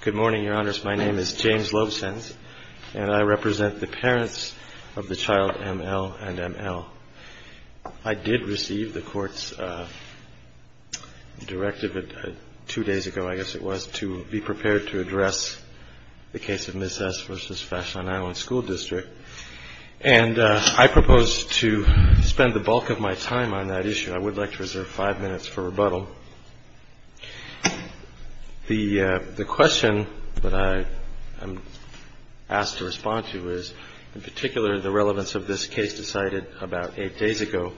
Good morning, Your Honors. My name is James Lobsens, and I represent the parents of the child M.L. and M.L. I did receive the Court's directive two days ago, I guess it was, to be prepared to address the case of Ms. S. v. Fashion Island School District, and I propose to spend the bulk of my time on that issue. I would like to reserve five minutes for rebuttal. The question that I am asked to respond to is, in particular, the relevance of this case decided about eight days ago,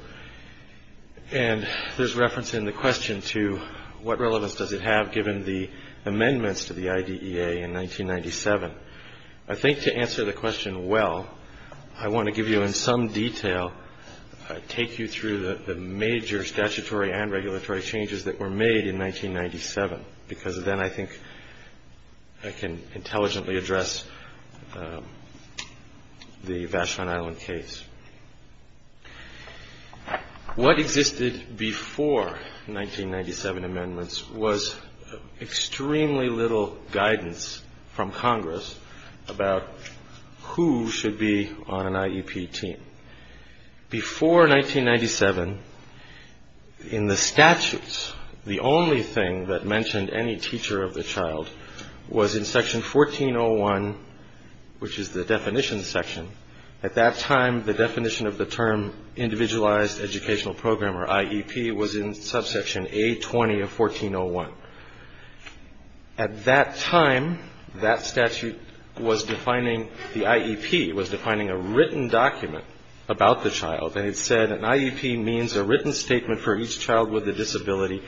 and there's reference in the question to what relevance does it have given the amendments to the IDEA in 1997. I think to answer the question well, I want to give you in some detail, take you through the major statutory and regulatory changes that were made in 1997, because then I think I can intelligently address the Fashion Island case. What existed before 1997 amendments was extremely little guidance from Congress about who should be on an IEP team. Before 1997, in the statutes, the only thing that mentioned any teacher of the child was in Section 1401, which is the definition section. At that time, the definition of the term Individualized Educational Program, or IEP, was in subsection A20 of 1401. At that time, that statute was defining the IEP, was defining a written document about the child, and it said an IEP means a written statement for each child with a disability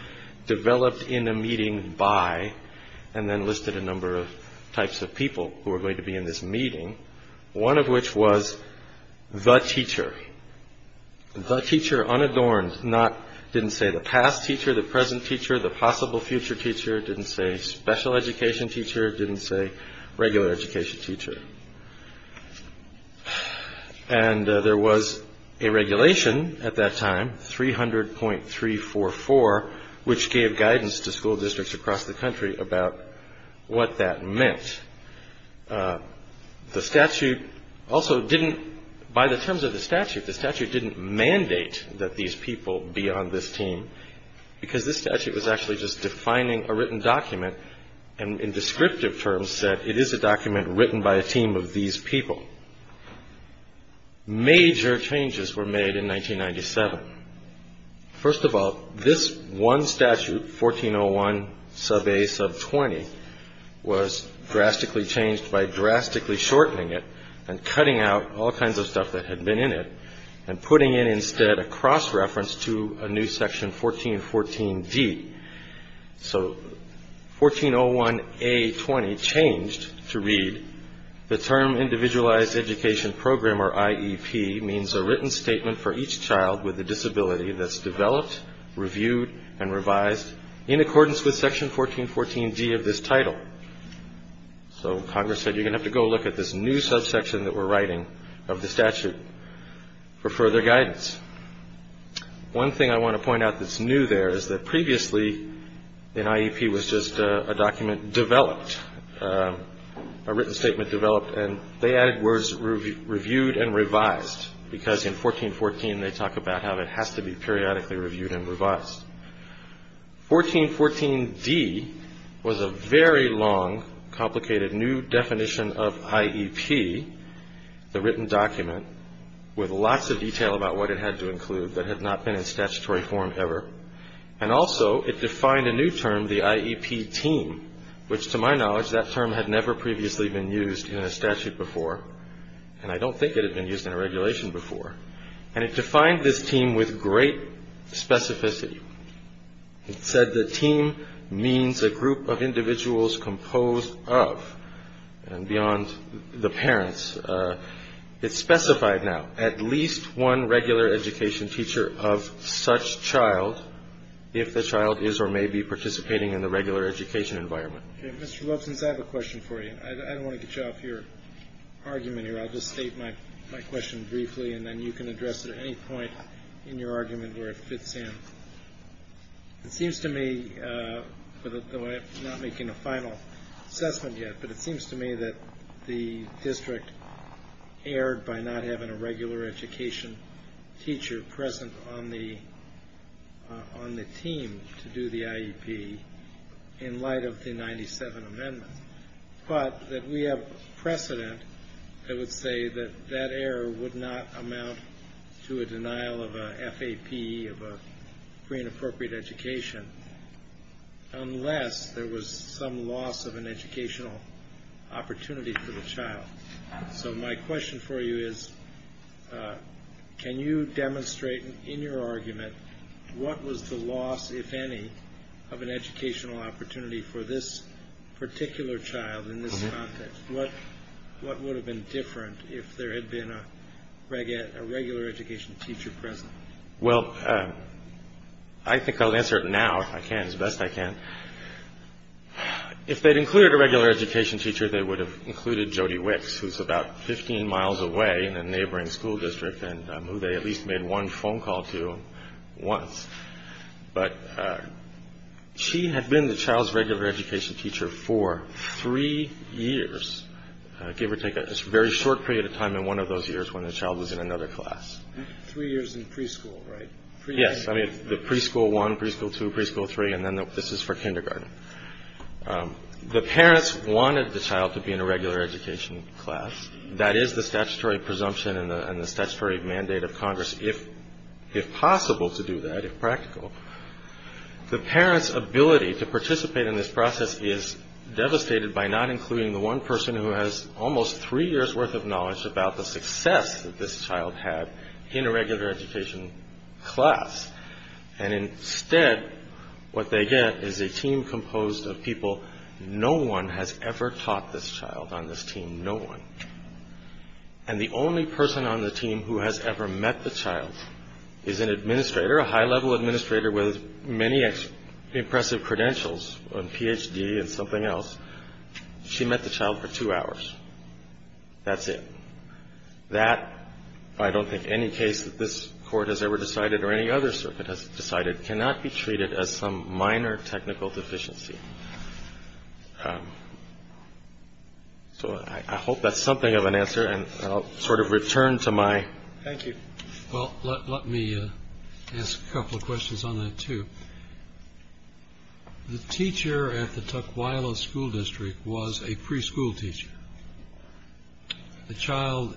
developed in a meeting by, and then listed a number of types of people who were going to be in this meeting, one of which was the teacher. The teacher, unadorned, didn't say the past teacher, the present teacher, the possible future teacher. It didn't say special education teacher. It didn't say regular education teacher. And there was a regulation at that time, 300.344, which gave guidance to school districts across the country about what that meant. The statute also didn't, by the terms of the statute, the statute didn't mandate that these people be on this team, because this statute was actually just defining a written document, and in descriptive terms said it is a document written by a team of these people. Major changes were made in 1997. First of all, this one statute, 1401 sub A sub 20, was drastically changed by drastically shortening it and cutting out all kinds of stuff that had been in it and putting in instead a cross-reference to a new section 1414D. So 1401A20 changed to read, the term individualized education program or IEP means a written statement for each child with a disability that's developed, reviewed, and revised in accordance with section 1414D of this title. So Congress said you're going to have to go look at this new subsection that we're writing of the statute for further guidance. One thing I want to point out that's new there is that previously an IEP was just a document developed, a written statement developed, and they added words reviewed and revised, because in 1414 they talk about how it has to be periodically reviewed and revised. 1414D was a very long, complicated, new definition of IEP, the written document with lots of detail about what it had to include that had not been in statutory form ever, and also it defined a new term, the IEP team, which to my knowledge, that term had never previously been used in a statute before, and I don't think it had been used in a regulation before, and it defined this team with great specificity. It said the team means a group of individuals composed of, and beyond the parents. It's specified now at least one regular education teacher of such child if the child is or may be participating in the regular education environment. Mr. Lobson, I have a question for you. I don't want to get you off your argument here. I'll just state my question briefly, and then you can address it at any point in your argument where it fits in. It seems to me, though I'm not making a final assessment yet, but it seems to me that the district erred by not having a regular education teacher present on the team to do the IEP in light of the 97 amendments, but that we have precedent that would say that that error would not amount to a denial of a FAP, of a free and appropriate education, unless there was some loss of an educational opportunity for the child. So my question for you is, can you demonstrate in your argument what was the loss, if any, of an educational opportunity for this particular child in this context? What would have been different if there had been a regular education teacher present? Well, I think I'll answer it now if I can, as best I can. If they'd included a regular education teacher, they would have included Jody Wicks, who's about 15 miles away in a neighboring school district and who they at least made one phone call to once. But she had been the child's regular education teacher for three years, give or take a very short period of time in one of those years when the child was in another class. Three years in preschool, right? Yes. I mean, the preschool one, preschool two, preschool three, and then this is for kindergarten. The parents wanted the child to be in a regular education class. That is the statutory presumption and the statutory mandate of Congress, if possible to do that, if practical. The parents' ability to participate in this process is devastated by not including the one person who has almost three years' worth of knowledge about the success that this child had in a regular education class. And instead, what they get is a team composed of people. No one has ever taught this child on this team. No one. And the only person on the team who has ever met the child is an administrator, a high-level administrator with many impressive credentials, a Ph.D. and something else. She met the child for two hours. That's it. That, I don't think any case that this court has ever decided or any other circuit has decided, cannot be treated as some minor technical deficiency. So I hope that's something of an answer. And I'll sort of return to my. Thank you. Well, let me ask a couple of questions on that, too. The teacher at the Tukwila School District was a preschool teacher. The child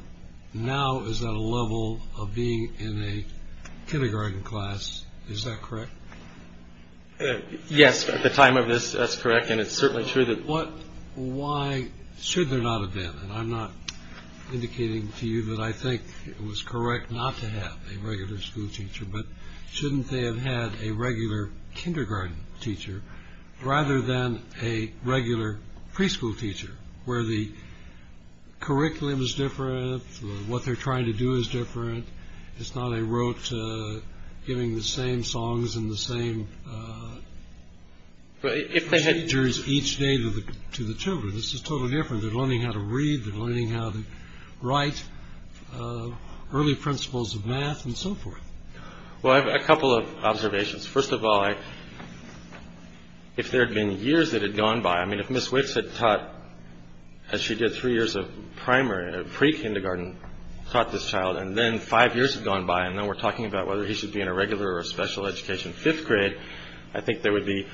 now is at a level of being in a kindergarten class. Is that correct? Yes. At the time of this. That's correct. And it's certainly true that what. Why should there not have been. And I'm not indicating to you that I think it was correct not to have a regular school teacher. But shouldn't they have had a regular kindergarten teacher rather than a regular preschool teacher where the. Curriculum is different. What they're trying to do is different. It's not a wrote giving the same songs in the same. But if they had each day to the children, this is totally different. Learning how to read, learning how to write early principles of math and so forth. Well, I have a couple of observations. First of all, I. If there had been years that had gone by, I mean, if Miss Wicks had taught, as she did, three years of primary pre-kindergarten, taught this child and then five years had gone by and now we're talking about whether he should be in a regular or special education fifth grade. I think there would be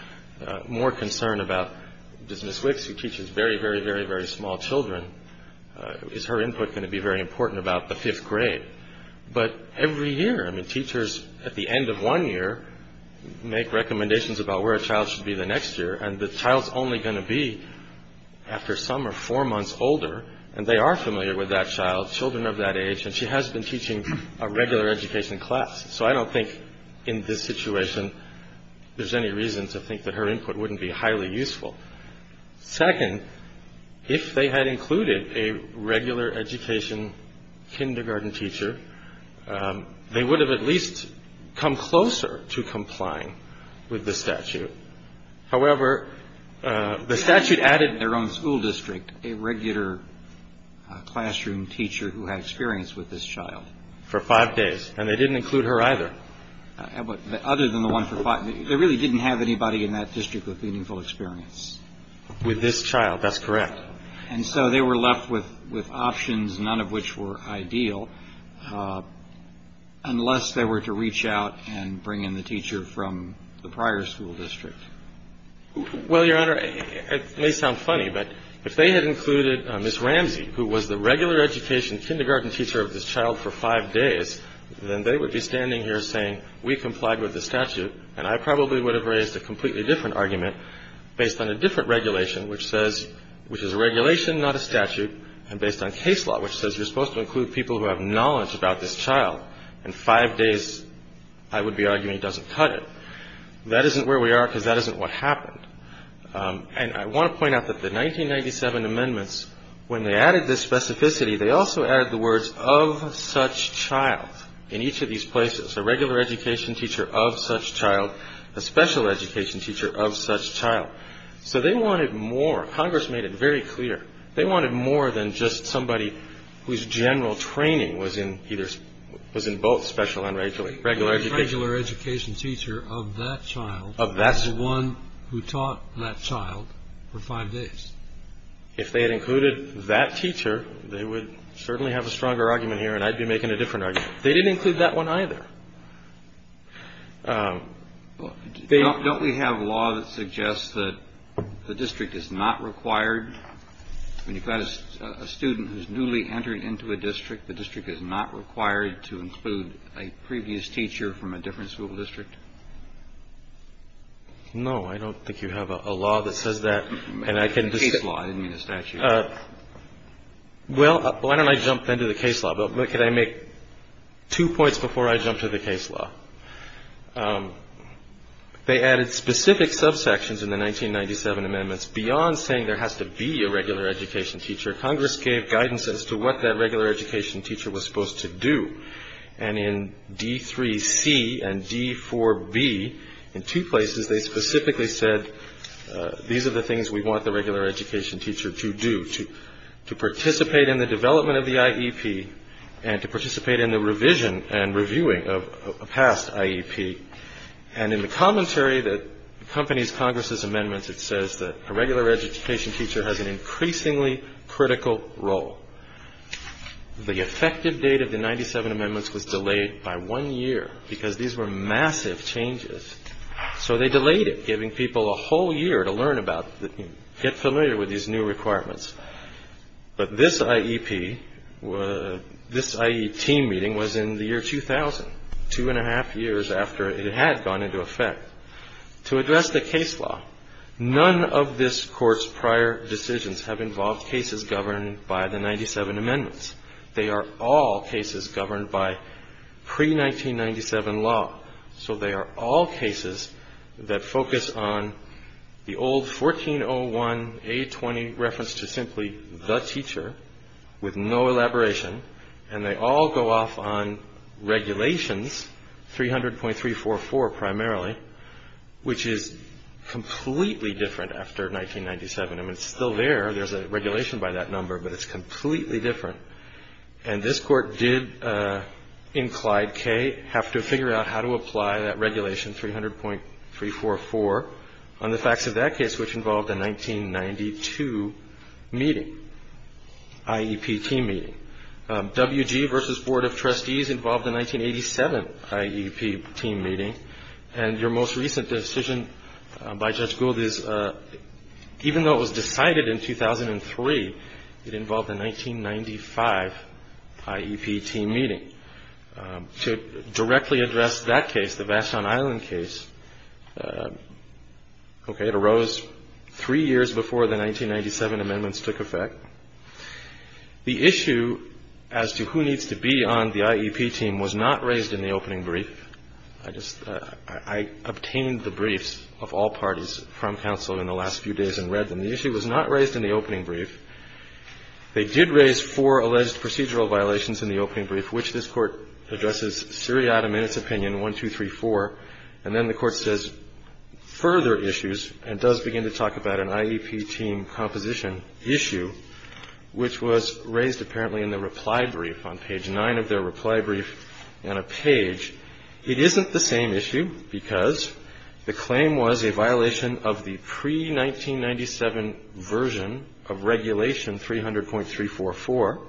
more concern about business which teaches very, very, very, very small children. Is her input going to be very important about the fifth grade? But every year, I mean, teachers at the end of one year make recommendations about where a child should be the next year. And the child's only going to be after summer, four months older. And they are familiar with that child. Children of that age. And she has been teaching a regular education class. So I don't think in this situation there's any reason to think that her input wouldn't be highly useful. Second, if they had included a regular education kindergarten teacher, they would have at least come closer to complying with the statute. However, the statute added their own school district, a regular classroom teacher who had experience with this child for five days. And they didn't include her either. But other than the one for five, they really didn't have anybody in that district with meaningful experience. With this child, that's correct. And so they were left with options, none of which were ideal, unless they were to reach out and bring in the teacher from the prior school district. Well, Your Honor, it may sound funny, but if they had included Ms. Ramsey, who was the regular education kindergarten teacher of this child for five days, then they would be standing here saying we complied with the statute. And I probably would have raised a completely different argument based on a different regulation, which says which is a regulation, not a statute. And based on case law, which says you're supposed to include people who have knowledge about this child. And five days, I would be arguing doesn't cut it. That isn't where we are because that isn't what happened. And I want to point out that the 1997 amendments, when they added this specificity, they also added the words of such child in each of these places. A regular education teacher of such child, a special education teacher of such child. So they wanted more. Congress made it very clear. They wanted more than just somebody whose general training was in either was in both special and regular education. A regular education teacher of that child. That's the one who taught that child for five days. If they had included that teacher, they would certainly have a stronger argument here. And I'd be making a different argument. They didn't include that one either. Don't we have law that suggests that the district is not required when you've got a student who's newly entered into a district? The district is not required to include a previous teacher from a different school district? No, I don't think you have a law that says that. And I can just. I didn't mean a statute. Well, why don't I jump into the case law? But could I make two points before I jump to the case law? They added specific subsections in the 1997 amendments. Beyond saying there has to be a regular education teacher, Congress gave guidance as to what that regular education teacher was supposed to do. And in D3C and D4B, in two places, they specifically said, these are the things we want the regular education teacher to do, to participate in the development of the IEP and to participate in the revision and reviewing of a past IEP. And in the commentary that accompanies Congress's amendments, it says that a regular education teacher has an increasingly critical role. The effective date of the 97 amendments was delayed by one year because these were massive changes. So they delayed it, giving people a whole year to learn about, get familiar with these new requirements. But this IEP, this IET meeting was in the year 2000, two and a half years after it had gone into effect. To address the case law, none of this Court's prior decisions have involved cases governed by the 97 amendments. They are all cases governed by pre-1997 law. So they are all cases that focus on the old 1401A20 reference to simply the teacher, with no elaboration. And they all go off on regulations, 300.344 primarily, which is completely different after 1997. I mean, it's still there. There's a regulation by that number, but it's completely different. And this Court did, in Clyde K., have to figure out how to apply that regulation, 300.344, on the facts of that case, which involved a 1992 meeting, IEP team meeting. W.G. v. Board of Trustees involved a 1987 IEP team meeting. And your most recent decision by Judge Gould is, even though it was decided in 2003, it involved a 1995 IEP team meeting. To directly address that case, the Vashon Island case, okay, it arose three years before the 1997 amendments took effect. The issue as to who needs to be on the IEP team was not raised in the opening brief. I obtained the briefs of all parties from counsel in the last few days and read them. The issue was not raised in the opening brief. They did raise four alleged procedural violations in the opening brief, which this Court addresses seriatim in its opinion, 1234. And then the Court says, further issues, and does begin to talk about an IEP team composition issue, which was raised apparently in the reply brief on page 9 of their reply brief on a page. It isn't the same issue because the claim was a violation of the pre-1997 version of Regulation 300.344.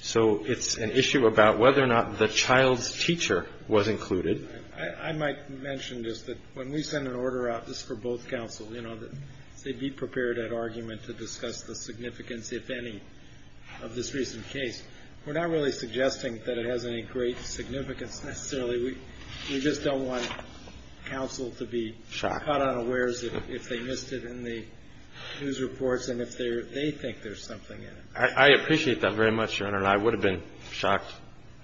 So it's an issue about whether or not the child's teacher was included. I might mention just that when we send an order out, this is for both counsel, you know, that they be prepared at argument to discuss the significance, if any, of this recent case. We're not really suggesting that it has any great significance necessarily. We just don't want counsel to be caught unawares if they missed it in the news reports and if they think there's something in it. I appreciate that very much, Your Honor, and I would have been shocked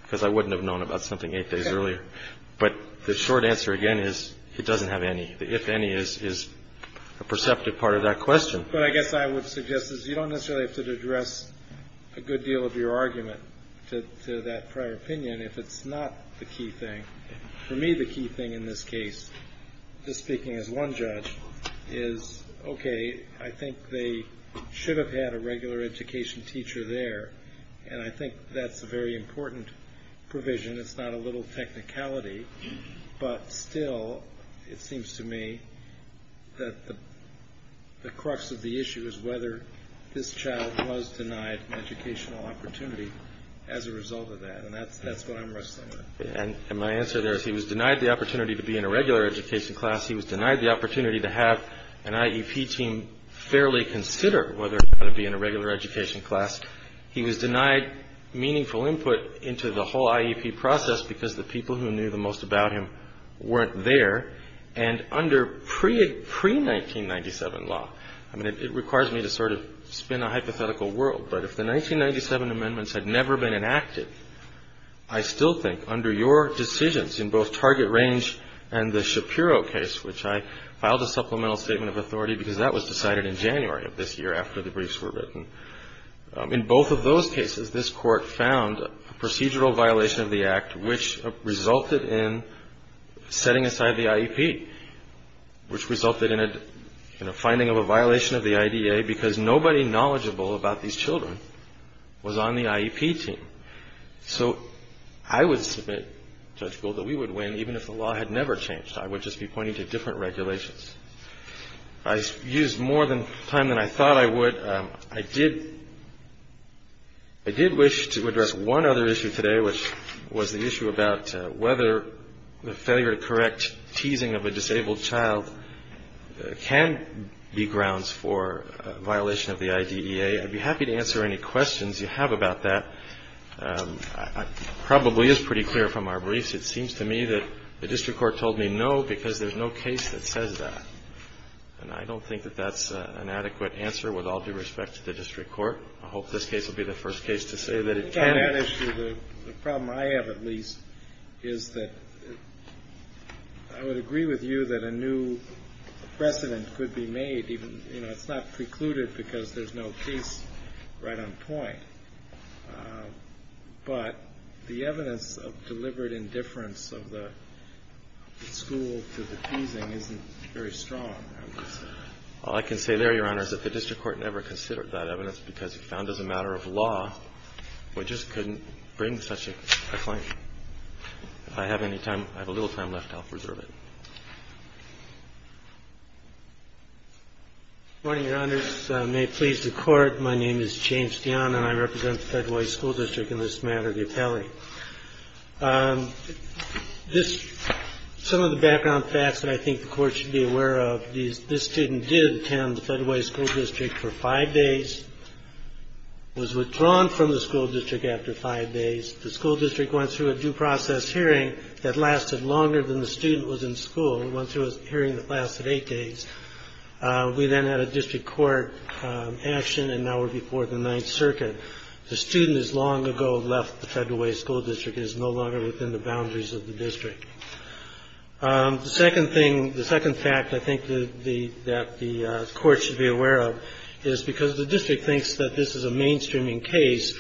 because I wouldn't have known about something eight days earlier. But the short answer, again, is it doesn't have any. The if any is a perceptive part of that question. But I guess I would suggest is you don't necessarily have to address a good deal of your argument to that prior opinion if it's not the key thing. For me, the key thing in this case, just speaking as one judge, is, okay, I think they should have had a regular education teacher there, and I think that's a very important provision. It's not a little technicality. But still, it seems to me that the crux of the issue is whether this child was denied an educational opportunity as a result of that. And that's what I'm wrestling with. And my answer there is he was denied the opportunity to be in a regular education class. He was denied the opportunity to have an IEP team fairly consider whether or not to be in a regular education class. He was denied meaningful input into the whole IEP process because the people who knew the most about him weren't there. And under pre-1997 law, I mean, it requires me to sort of spin a hypothetical world. But if the 1997 amendments had never been enacted, I still think under your decisions in both Target Range and the Shapiro case, which I filed a supplemental statement of authority because that was decided in January of this year after the briefs were written, in both of those cases, this Court found a procedural violation of the Act which resulted in setting aside the IEP, which resulted in a finding of a violation of the IDA because nobody knowledgeable about these children was on the IEP team. So I would submit, Judge Gould, that we would win even if the law had never changed. I would just be pointing to different regulations. I used more time than I thought I would. I did wish to address one other issue today, which was the issue about whether the failure to correct teasing of a disabled child can be grounds for a violation of the IDEA. I'd be happy to answer any questions you have about that. It probably is pretty clear from our briefs. It seems to me that the district court told me no because there's no case that says that. And I don't think that that's an adequate answer with all due respect to the district court. I hope this case will be the first case to say that it can. The problem I have, at least, is that I would agree with you that a new precedent could be made. It's not precluded because there's no case right on point. But the evidence of deliberate indifference of the school to the teasing isn't very strong. All I can say there, Your Honor, is that the district court never considered that evidence because it's found as a matter of law. We just couldn't bring such a claim. If I have any time, I have a little time left. I'll preserve it. James Dionne, Jr. Good morning, Your Honors. May it please the Court, my name is James Dionne, and I represent the Federal High School District in this matter, the appellee. Some of the background facts that I think the Court should be aware of. This student did attend the Federal High School District for five days, was withdrawn from the school district after five days. The school district went through a due process hearing that lasted longer than the student was in school. It went through a hearing that lasted eight days. We then had a district court action, and now we're before the Ninth Circuit. The student has long ago left the Federal High School District and is no longer within the boundaries of the district. The second thing, the second fact I think that the Court should be aware of is because the district thinks that this is a mainstreaming case,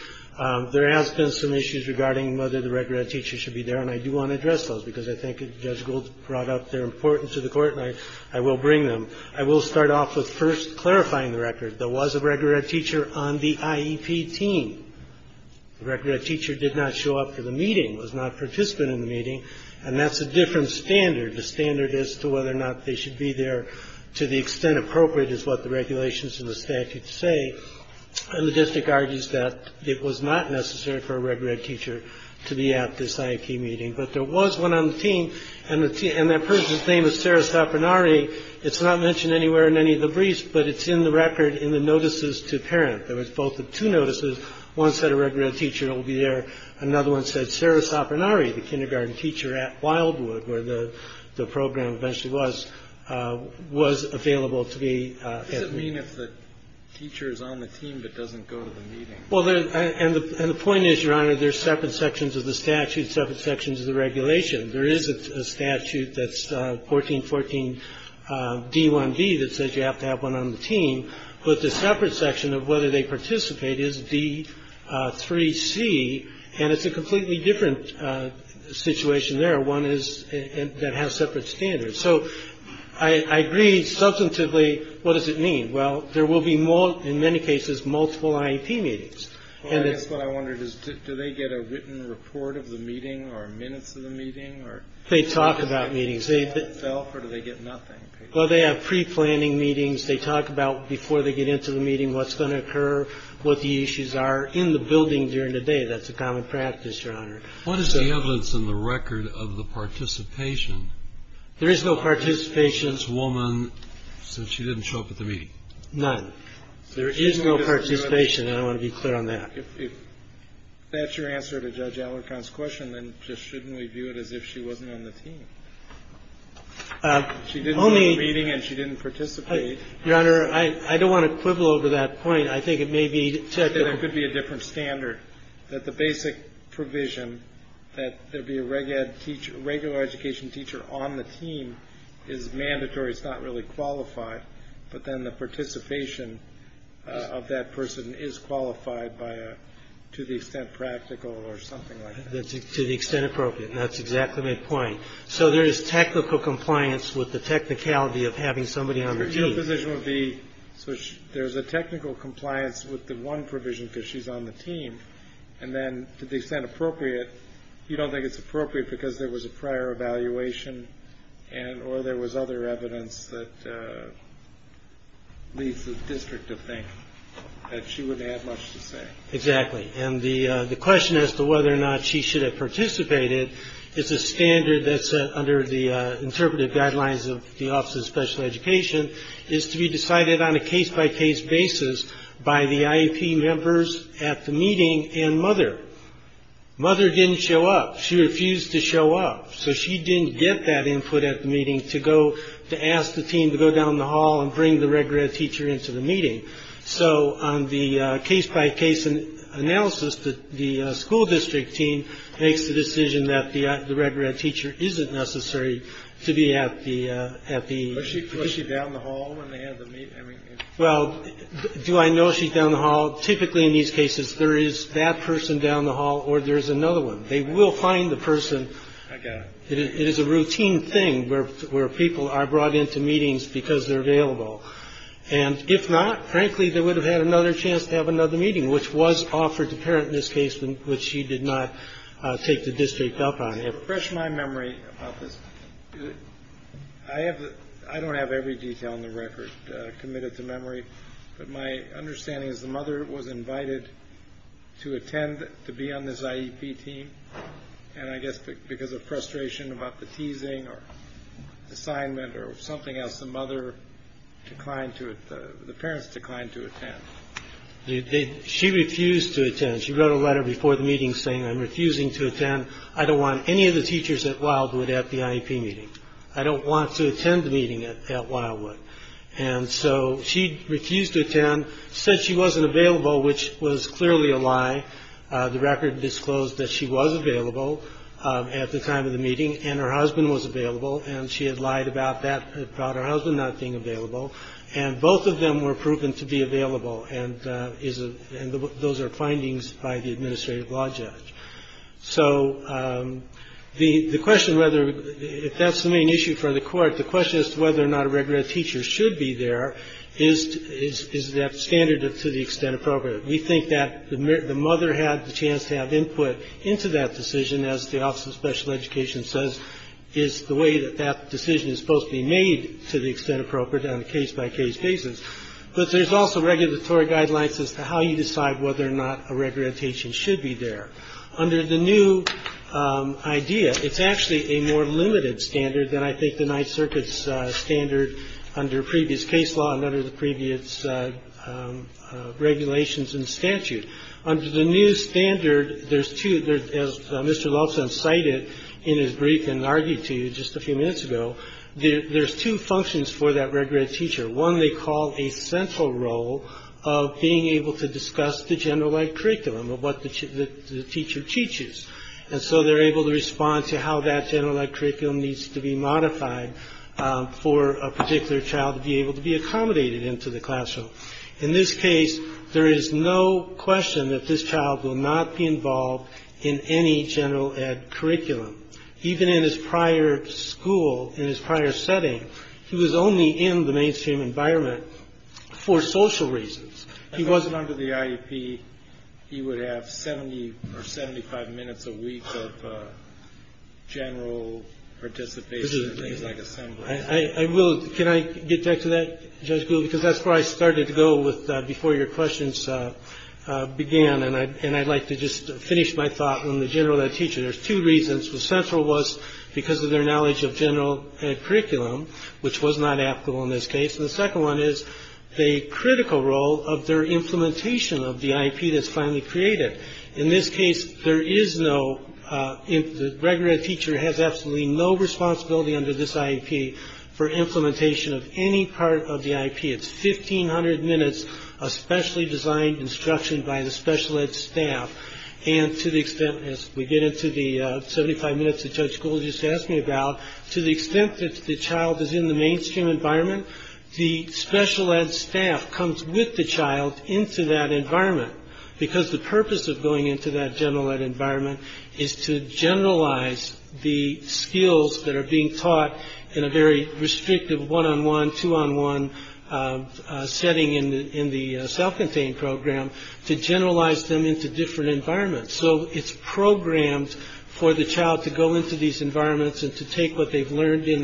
there has been some issues regarding whether the regular teacher should be there. And I do want to address those because I think Judge Gould brought up their importance to the Court, and I will bring them. I will start off with first clarifying the record. There was a regular ed teacher on the IEP team. The regular ed teacher did not show up for the meeting, was not a participant in the meeting, and that's a different standard. The standard is to whether or not they should be there to the extent appropriate is what the regulations and the statute say. And the district argues that it was not necessary for a regular ed teacher to be at this IEP meeting. But there was one on the team, and that person's name is Sarah Sopranari. It's not mentioned anywhere in any of the briefs, but it's in the record in the notices to parent. There was both the two notices. One said a regular ed teacher will be there. Another one said Sarah Sopranari, the kindergarten teacher at Wildwood, where the program eventually was, was available to be at. What does it mean if the teacher is on the team but doesn't go to the meeting? Well, and the point is, Your Honor, there's separate sections of the statute, separate sections of the regulation. There is a statute that's 1414d1b that says you have to have one on the team, but the separate section of whether they participate is d3c, and it's a completely different situation there. One is that has separate standards. So I agree substantively. What does it mean? Well, there will be, in many cases, multiple IEP meetings. I guess what I wondered is, do they get a written report of the meeting or minutes of the meeting? They talk about meetings. Or do they get nothing? Well, they have pre-planning meetings. They talk about before they get into the meeting what's going to occur, what the issues are in the building during the day. That's a common practice, Your Honor. What is the evidence in the record of the participation? There is no participation. There's a woman, so she didn't show up at the meeting. None. There is no participation, and I want to be clear on that. If that's your answer to Judge Allercon's question, then just shouldn't we view it as if she wasn't on the team? She didn't go to the meeting and she didn't participate. Your Honor, I don't want to quibble over that point. I think it may be technical. There could be a different standard, that the basic provision that there be a regular education teacher on the team is mandatory. It's not really qualified. But then the participation of that person is qualified to the extent practical or something like that. To the extent appropriate. That's exactly my point. So there is technical compliance with the technicality of having somebody on the team. So there's a technical compliance with the one provision because she's on the team. And then to the extent appropriate, you don't think it's appropriate because there was a prior evaluation or there was other evidence that leads the district to think that she wouldn't have much to say. Exactly. And the question as to whether or not she should have participated is a standard that's under the interpretive guidelines of the Office of Special Education. It is to be decided on a case by case basis by the IEP members at the meeting and mother. Mother didn't show up. She refused to show up. So she didn't get that input at the meeting to go to ask the team to go down the hall and bring the regular teacher into the meeting. So on the case by case analysis, the school district team makes the decision that the regular teacher isn't necessary to be at the at the. Was she down the hall when they had the meeting? Well, do I know she's down the hall? Typically, in these cases, there is that person down the hall or there's another one. They will find the person. It is a routine thing where people are brought into meetings because they're available. And if not, frankly, they would have had another chance to have another meeting, which was offered to parent in this case, which she did not take the district up on. Refresh my memory about this. I have I don't have every detail in the record committed to memory. But my understanding is the mother was invited to attend to be on this IEP team. And I guess because of frustration about the teasing or assignment or something else, the mother declined to the parents declined to attend. Did she refuse to attend? She wrote a letter before the meeting saying I'm refusing to attend. I don't want any of the teachers at Wildwood at the IEP meeting. I don't want to attend the meeting at Wildwood. And so she refused to attend, said she wasn't available, which was clearly a lie. The record disclosed that she was available at the time of the meeting and her husband was available. And she had lied about that, about her husband not being available. And both of them were proven to be available. And those are findings by the administrative law judge. So the question whether if that's the main issue for the court, the question as to whether or not a reg-red teacher should be there, is that standard to the extent appropriate? We think that the mother had the chance to have input into that decision, as the Office of Special Education says, is the way that that decision is supposed to be made to the extent appropriate on a case-by-case basis. But there's also regulatory guidelines as to how you decide whether or not a reg-red teacher should be there. Under the new idea, it's actually a more limited standard than, I think, the Ninth Circuit's standard under previous case law and under the previous regulations and statute. Under the new standard, there's two, as Mr. Loveson cited in his brief and argued to you just a few minutes ago, there's two functions for that reg-red teacher. One they call a central role of being able to discuss the general ed curriculum of what the teacher teaches. And so they're able to respond to how that general ed curriculum needs to be modified for a particular child to be able to be accommodated into the classroom. In this case, there is no question that this child will not be involved in any general ed curriculum. Even in his prior school, in his prior setting, he was only in the mainstream environment for social reasons. He wasn't under the IEP. He would have 70 or 75 minutes a week of general participation in things like assembly. I will. Can I get back to that, Judge Gould? Because that's where I started to go with before your questions began. And I'd like to just finish my thought on the general ed teacher. There's two reasons. The central was because of their knowledge of general curriculum, which was not applicable in this case. And the second one is the critical role of their implementation of the IEP that's finally created. In this case, there is no reg-red teacher has absolutely no responsibility under this IEP for implementation of any part of the IEP. It's fifteen hundred minutes, especially designed instruction by the special ed staff. And to the extent, as we get into the 75 minutes that Judge Gould just asked me about, to the extent that the child is in the mainstream environment, the special ed staff comes with the child into that environment. Because the purpose of going into that general ed environment is to generalize the skills that are being taught in a very restrictive one-on-one, two-on-one setting in the self-contained program, to generalize them into different environments. So it's programmed for the child to go into these environments and to take what they've learned in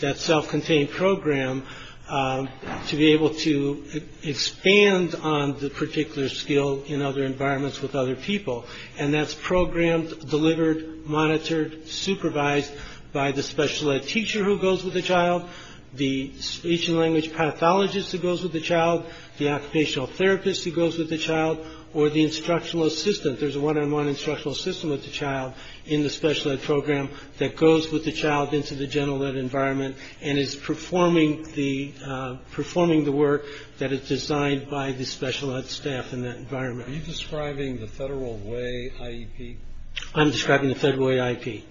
that self-contained program, to be able to expand on the particular skill in other environments with other people. And that's programmed, delivered, monitored, supervised by the special ed teacher who goes with the child. The speech and language pathologist who goes with the child. The occupational therapist who goes with the child. Or the instructional assistant. There's a one-on-one instructional assistant with the child in the special ed program that goes with the child into the general ed environment and is performing the work that is designed by the special ed staff in that environment. Are you describing the Federal Way IEP? I'm describing the Federal Way IEP.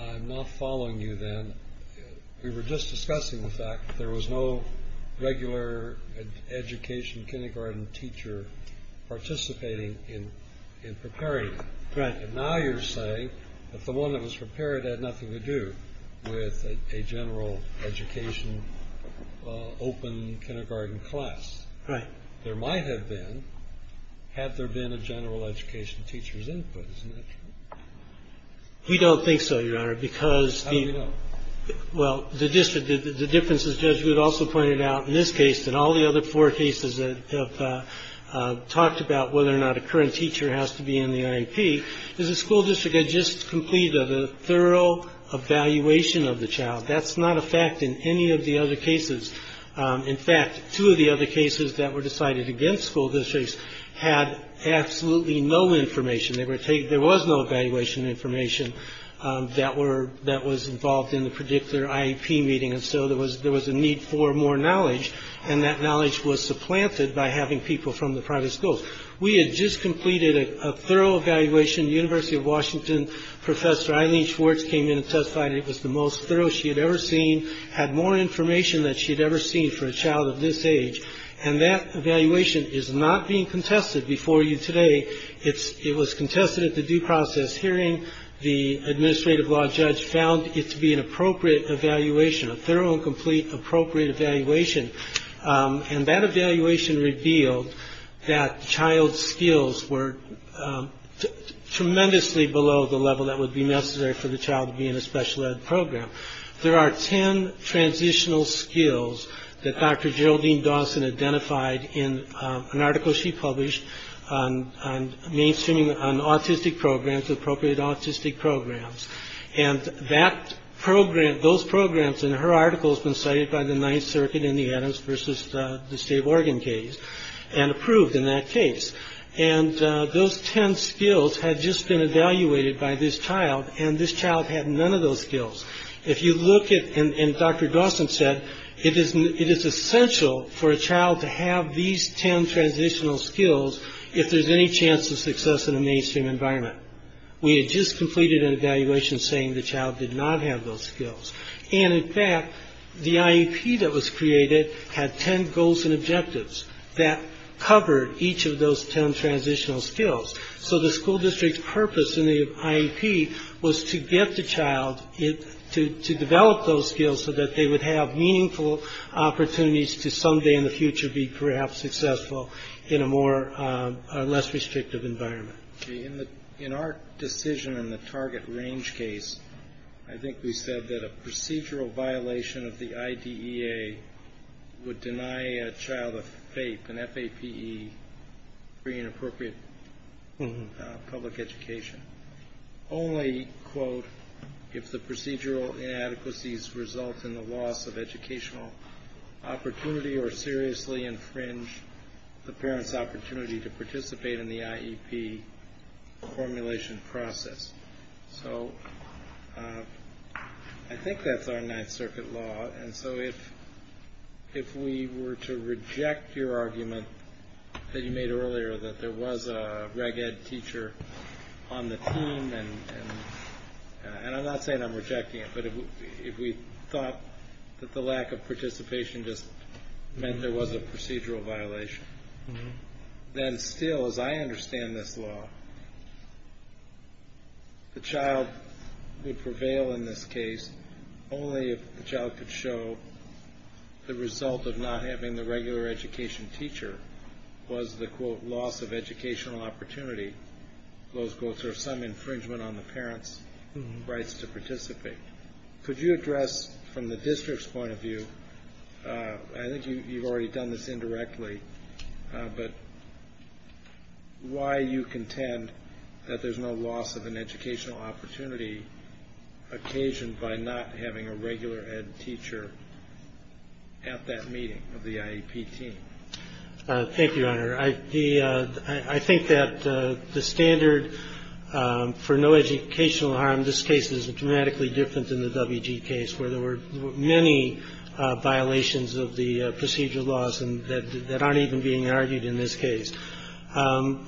I'm not following you then. We were just discussing the fact that there was no regular education kindergarten teacher participating in preparing them. Right. And now you're saying that the one that was prepared had nothing to do with a general education open kindergarten class. Right. There might have been, had there been a general education teacher's input. Isn't that true? We don't think so, Your Honor, because the — How do we know? Well, the district — the difference is, Judge, you had also pointed out in this case and all the other four cases that have talked about whether or not a current teacher has to be in the IEP, is the school district had just completed a thorough evaluation of the child. That's not a fact in any of the other cases. In fact, two of the other cases that were decided against school districts had absolutely no information. There was no evaluation information that was involved in the predictor IEP meeting. And so there was a need for more knowledge, and that knowledge was supplanted by having people from the private schools. We had just completed a thorough evaluation. The University of Washington professor Eileen Schwartz came in and testified it was the most thorough she had ever seen, had more information than she had ever seen for a child of this age. And that evaluation is not being contested before you today. It was contested at the due process hearing. The administrative law judge found it to be an appropriate evaluation, a thorough and complete appropriate evaluation. And that evaluation revealed that the child's skills were tremendously below the level that would be necessary for the child to be in a special ed program. There are 10 transitional skills that Dr. Geraldine Dawson identified in an article she published on mainstreaming on autistic programs, appropriate autistic programs, and that program, those programs in her articles been cited by the Ninth Circuit in the Adams versus the state of Oregon case and approved in that case. And those 10 skills had just been evaluated by this child. And this child had none of those skills. If you look at and Dr. Dawson said it is it is essential for a child to have these 10 transitional skills. If there's any chance of success in a mainstream environment, we had just completed an evaluation saying the child did not have those skills. And in fact, the IEP that was created had 10 goals and objectives that covered each of those 10 transitional skills. So the school district's purpose in the IEP was to get the child to develop those skills so that they would have meaningful opportunities to someday in the future be perhaps successful in a more or less restrictive environment. In our decision in the target range case, I think we said that a procedural violation of the IDEA would deny a child a FAPE, an F-A-P-E, free and appropriate public education. Only, quote, if the procedural inadequacies result in the loss of educational opportunity or seriously infringe the parent's opportunity to participate in the IEP formulation process. So I think that's our Ninth Circuit law. And so if if we were to reject your argument that you made earlier that there was a reg ed teacher on the team, and I'm not saying I'm rejecting it, but if we thought that the lack of participation just meant there was a procedural violation, then still, as I understand this law, the child would prevail in this case only if the child could show the result of not having the regular education teacher was the, quote, loss of educational opportunity. Those quotes are some infringement on the parent's rights to participate. Could you address from the district's point of view, I think you've already done this indirectly, but why you contend that there's no loss of an educational opportunity occasioned by not having a regular ed teacher at that meeting of the IEP team? Thank you, Your Honor. I think that the standard for no educational harm in this case is dramatically different than the W.G. case, where there were many violations of the procedural laws that aren't even being argued in this case.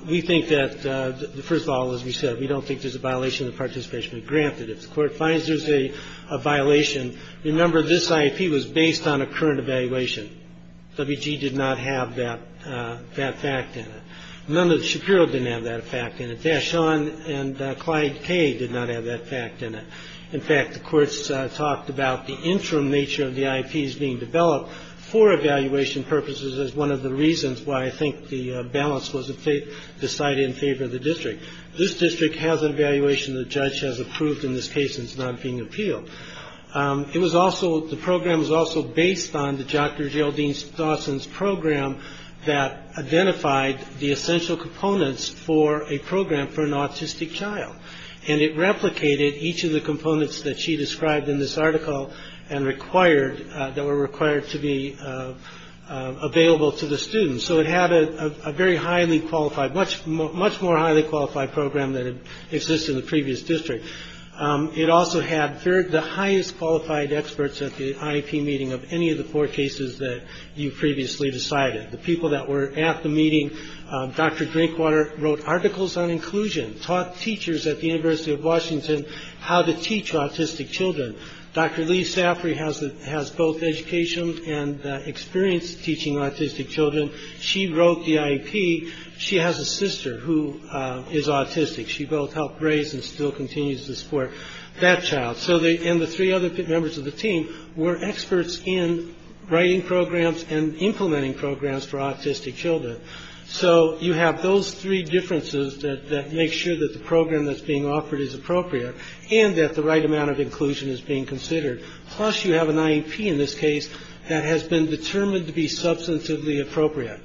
We think that, first of all, as we said, we don't think there's a violation of participation. Granted, if the Court finds there's a violation, remember this IEP was based on a current evaluation. W.G. did not have that fact in it. None of the Shapiro didn't have that fact in it. Dashon and Clyde Kaye did not have that fact in it. In fact, the courts talked about the interim nature of the IEPs being developed for evaluation purposes as one of the reasons why I think the balance was decided in favor of the district. This district has an evaluation the judge has approved in this case, and it's not being appealed. It was also, the program was also based on the Dr. Geraldine Dawson's program that identified the essential components for a program for an autistic child. And it replicated each of the components that she described in this article and required, that were required to be available to the students. So it had a very highly qualified, much more highly qualified program than existed in the previous district. It also had the highest qualified experts at the IEP meeting of any of the four cases that you previously decided. The people that were at the meeting, Dr. Drinkwater wrote articles on inclusion, taught teachers at the University of Washington how to teach autistic children. Dr. Lee Saffrey has both education and experience teaching autistic children. She wrote the IEP. She has a sister who is autistic. She both helped raise and still continues to support that child. And the three other members of the team were experts in writing programs and implementing programs for autistic children. So you have those three differences that make sure that the program that's being offered is appropriate and that the right amount of inclusion is being considered. Plus you have an IEP in this case that has been determined to be substantively appropriate.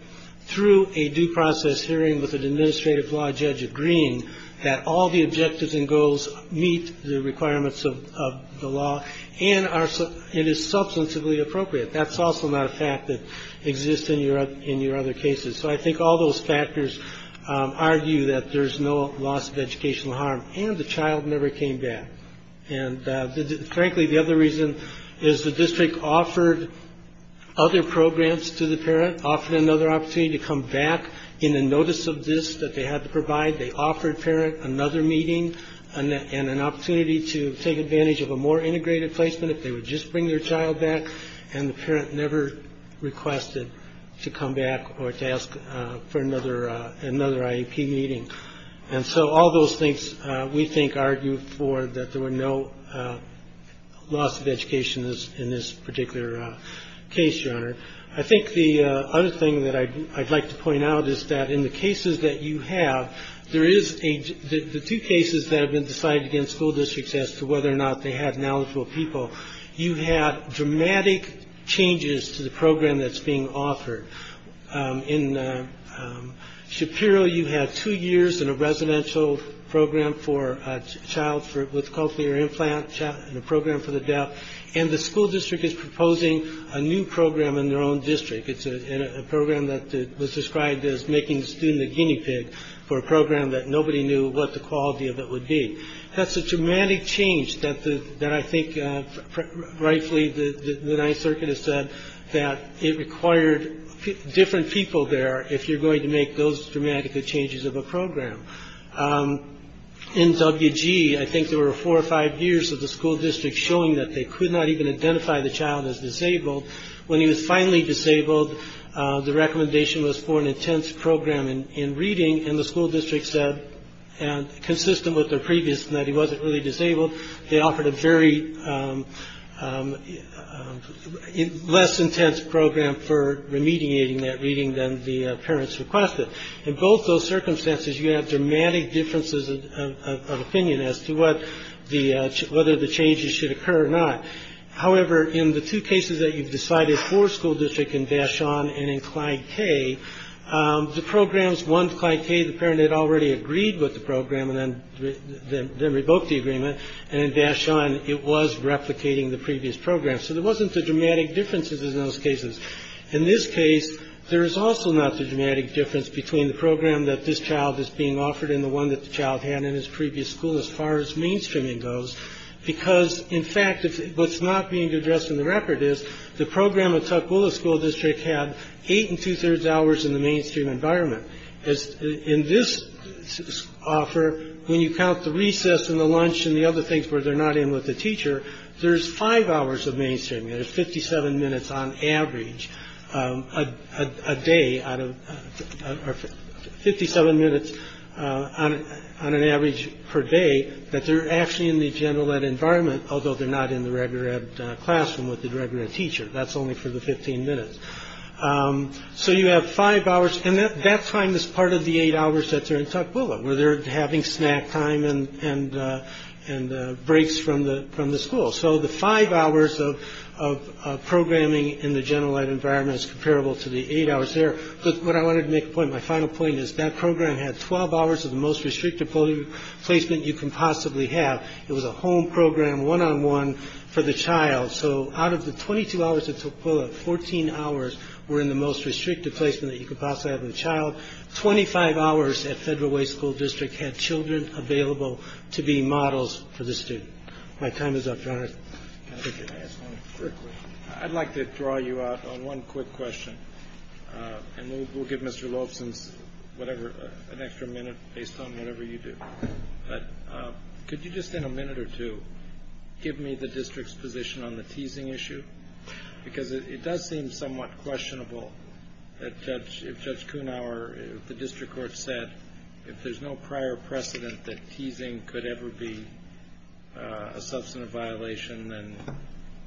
Through a due process hearing with an administrative law judge agreeing that all the objectives and goals meet the requirements of the law, and it is substantively appropriate. That's also not a fact that exists in your other cases. So I think all those factors argue that there's no loss of educational harm. And the child never came back. And frankly, the other reason is the district offered other programs to the parent, offered another opportunity to come back in the notice of this that they had to provide. They offered parent another meeting and an opportunity to take advantage of a more integrated placement. They would just bring their child back. And the parent never requested to come back or to ask for another another IEP meeting. And so all those things we think argue for that there were no loss of education in this particular case. Your Honor, I think the other thing that I'd like to point out is that in the cases that you have, there is a two cases that have been decided against school districts as to whether or not they had knowledgeable people. You have dramatic changes to the program that's being offered in Shapiro. You have two years in a residential program for a child with cochlear implant and a program for the deaf. And the school district is proposing a new program in their own district. It's a program that was described as making the student a guinea pig for a program that nobody knew what the quality of it would be. That's a dramatic change that I think rightfully the Ninth Circuit has said that it required different people there if you're going to make those dramatic changes of a program in WG. I think there were four or five years of the school district showing that they could not even identify the child as disabled. When he was finally disabled, the recommendation was for an intense program in reading. And the school district said, and consistent with the previous night, he wasn't really disabled. They offered a very less intense program for remediating that reading than the parents requested. In both those circumstances, you have dramatic differences of opinion as to what the whether the changes should occur or not. However, in the two cases that you've decided for school district in Bashan and in Clyde, the programs, one, Clyde K., the parent had already agreed with the program and then revoked the agreement. And in Bashan, it was replicating the previous program. So there wasn't the dramatic differences in those cases. In this case, there is also not the dramatic difference between the program that this child is being offered and the one that the child had in his previous school as far as mainstreaming goes. Because, in fact, what's not being addressed in the record is the program. Well, the school district had eight and two thirds hours in the mainstream environment. In this offer, when you count the recess and the lunch and the other things where they're not in with the teacher, there's five hours of mainstream. There's fifty seven minutes on average a day out of fifty seven minutes on an average per day that they're actually in the general environment, although they're not in the regular classroom with the regular teacher. That's only for the 15 minutes. So you have five hours and that that time is part of the eight hours that are in Tukwila where they're having snack time and and and breaks from the from the school. So the five hours of of programming in the general environment is comparable to the eight hours there. But what I wanted to make a point, my final point is that program had 12 hours of the most restrictive placement you can possibly have. It was a home program, one on one for the child. So out of the twenty two hours of Tukwila, 14 hours were in the most restrictive placement that you could possibly have a child. Twenty five hours at Federal Way School District had children available to be models for the student. My time is up. I'd like to draw you out on one quick question. And we'll give Mr. Lobson's whatever an extra minute based on whatever you do. Could you just in a minute or two give me the district's position on the teasing issue? Because it does seem somewhat questionable that judge if Judge Kuhnhauer, the district court said if there's no prior precedent that teasing could ever be a substantive violation and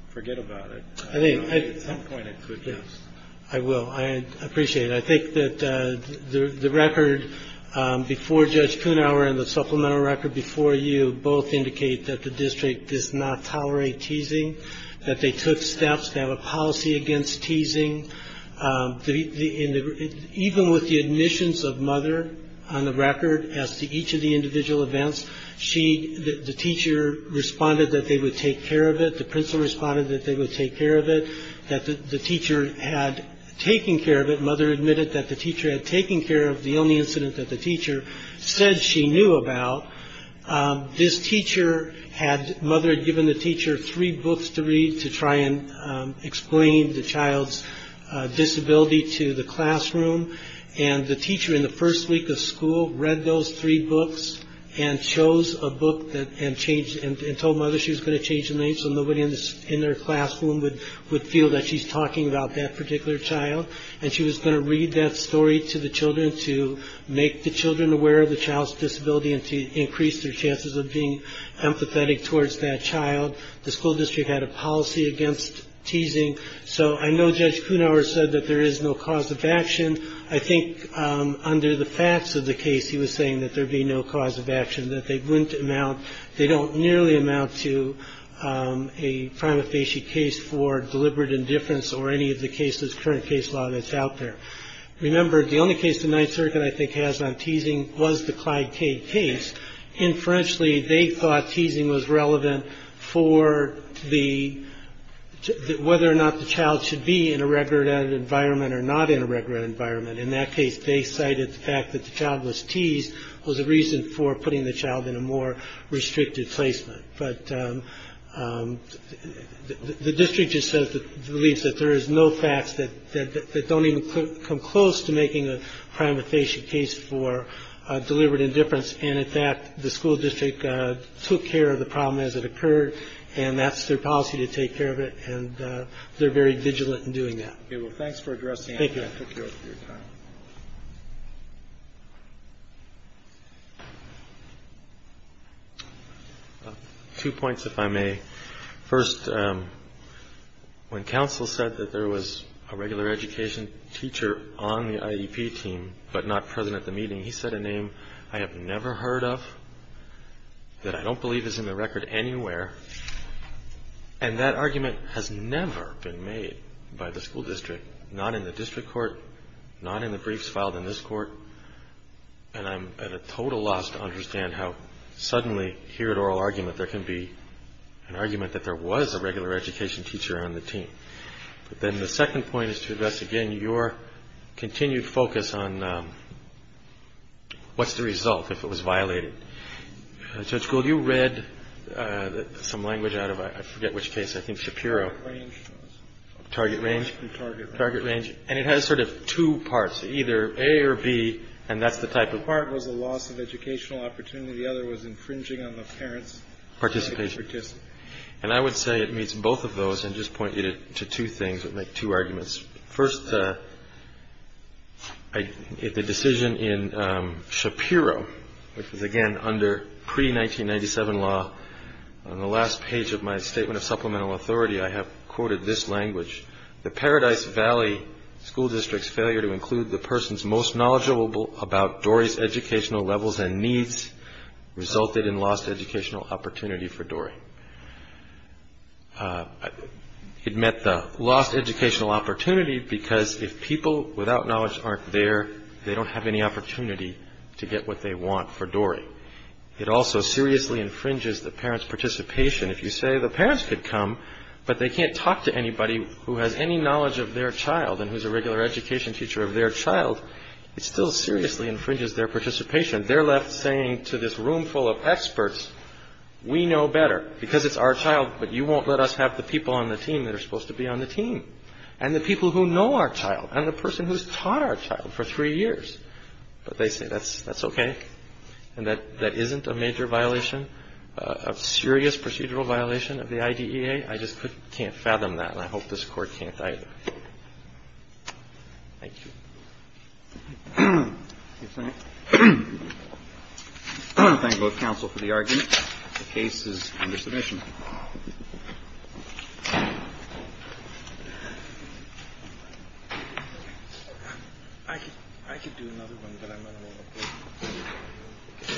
forget about it. I think at some point it could. Yes, I will. I appreciate it. I think that the record before Judge Kuhnhauer and the supplemental record before you both indicate that the district does not tolerate teasing, that they took steps to have a policy against teasing. And even with the admissions of mother on the record as to each of the individual events, she the teacher responded that they would take care of it. The principal responded that they would take care of it, that the teacher had taken care of it. Mother admitted that the teacher had taken care of the only incident that the teacher said she knew about. This teacher had mother given the teacher three books to read to try and explain the child's disability to the classroom. And the teacher in the first week of school read those three books and chose a book that had changed and told mother she was going to change the name. So nobody in their classroom would would feel that she's talking about that particular child. And she was going to read that story to the children to make the children aware of the child's disability and to increase their chances of being empathetic towards that child. The school district had a policy against teasing. So I know Judge Kuhnhauer said that there is no cause of action. I think under the facts of the case, he was saying that there'd be no cause of action, that they wouldn't amount. They don't nearly amount to a prima facie case for deliberate indifference or any of the cases, current case law that's out there. Remember, the only case the Ninth Circuit I think has on teasing was the Clyde Cade case. Inferentially, they thought teasing was relevant for the whether or not the child should be in a regular environment or not in a regular environment. In that case, they cited the fact that the child was teased was a reason for putting the child in a more restricted placement. But the district just says that there is no facts that don't even come close to making a prima facie case for deliberate indifference. And in fact, the school district took care of the problem as it occurred. And that's their policy to take care of it. And they're very vigilant in doing that. Okay. Well, thanks for addressing it. Thank you. I took your time. Two points, if I may. First, when counsel said that there was a regular education teacher on the IEP team but not present at the meeting, he said a name I have never heard of that I don't believe is in the record anywhere. And that argument has never been made by the school district, not in the district court, not in the briefs filed in this court. And I'm at a total loss to understand how suddenly here at oral argument there can be an argument that there was a regular education teacher on the team. But then the second point is to address, again, your continued focus on what's the result if it was violated. Judge Gould, you read some language out of, I forget which case, I think Shapiro. Target range. Target range. Target range. And it has sort of two parts, either A or B. And that's the type of. One part was the loss of educational opportunity. The other was infringing on the parents' participation. And I would say it meets both of those and just point you to two things that make two arguments. First, the decision in Shapiro, which was, again, under pre-1997 law. On the last page of my statement of supplemental authority, I have quoted this language. The Paradise Valley School District's failure to include the person's most knowledgeable about Dory's educational levels and needs resulted in lost educational opportunity for Dory. It met the lost educational opportunity because if people without knowledge aren't there, they don't have any opportunity to get what they want for Dory. It also seriously infringes the parents' participation. If you say the parents could come, but they can't talk to anybody who has any knowledge of their child and who's a regular education teacher of their child, it still seriously infringes their participation. They're left saying to this room full of experts, we know better because it's our child, but you won't let us have the people on the team that are supposed to be on the team and the people who know our child and the person who's taught our child for three years. But they say that's okay and that that isn't a major violation, a serious procedural violation of the IDEA. I just can't fathom that, and I hope this Court can't either. Thank you. Thank you both counsel for the argument. The case is under submission. I could do another one, but I'm going to move on.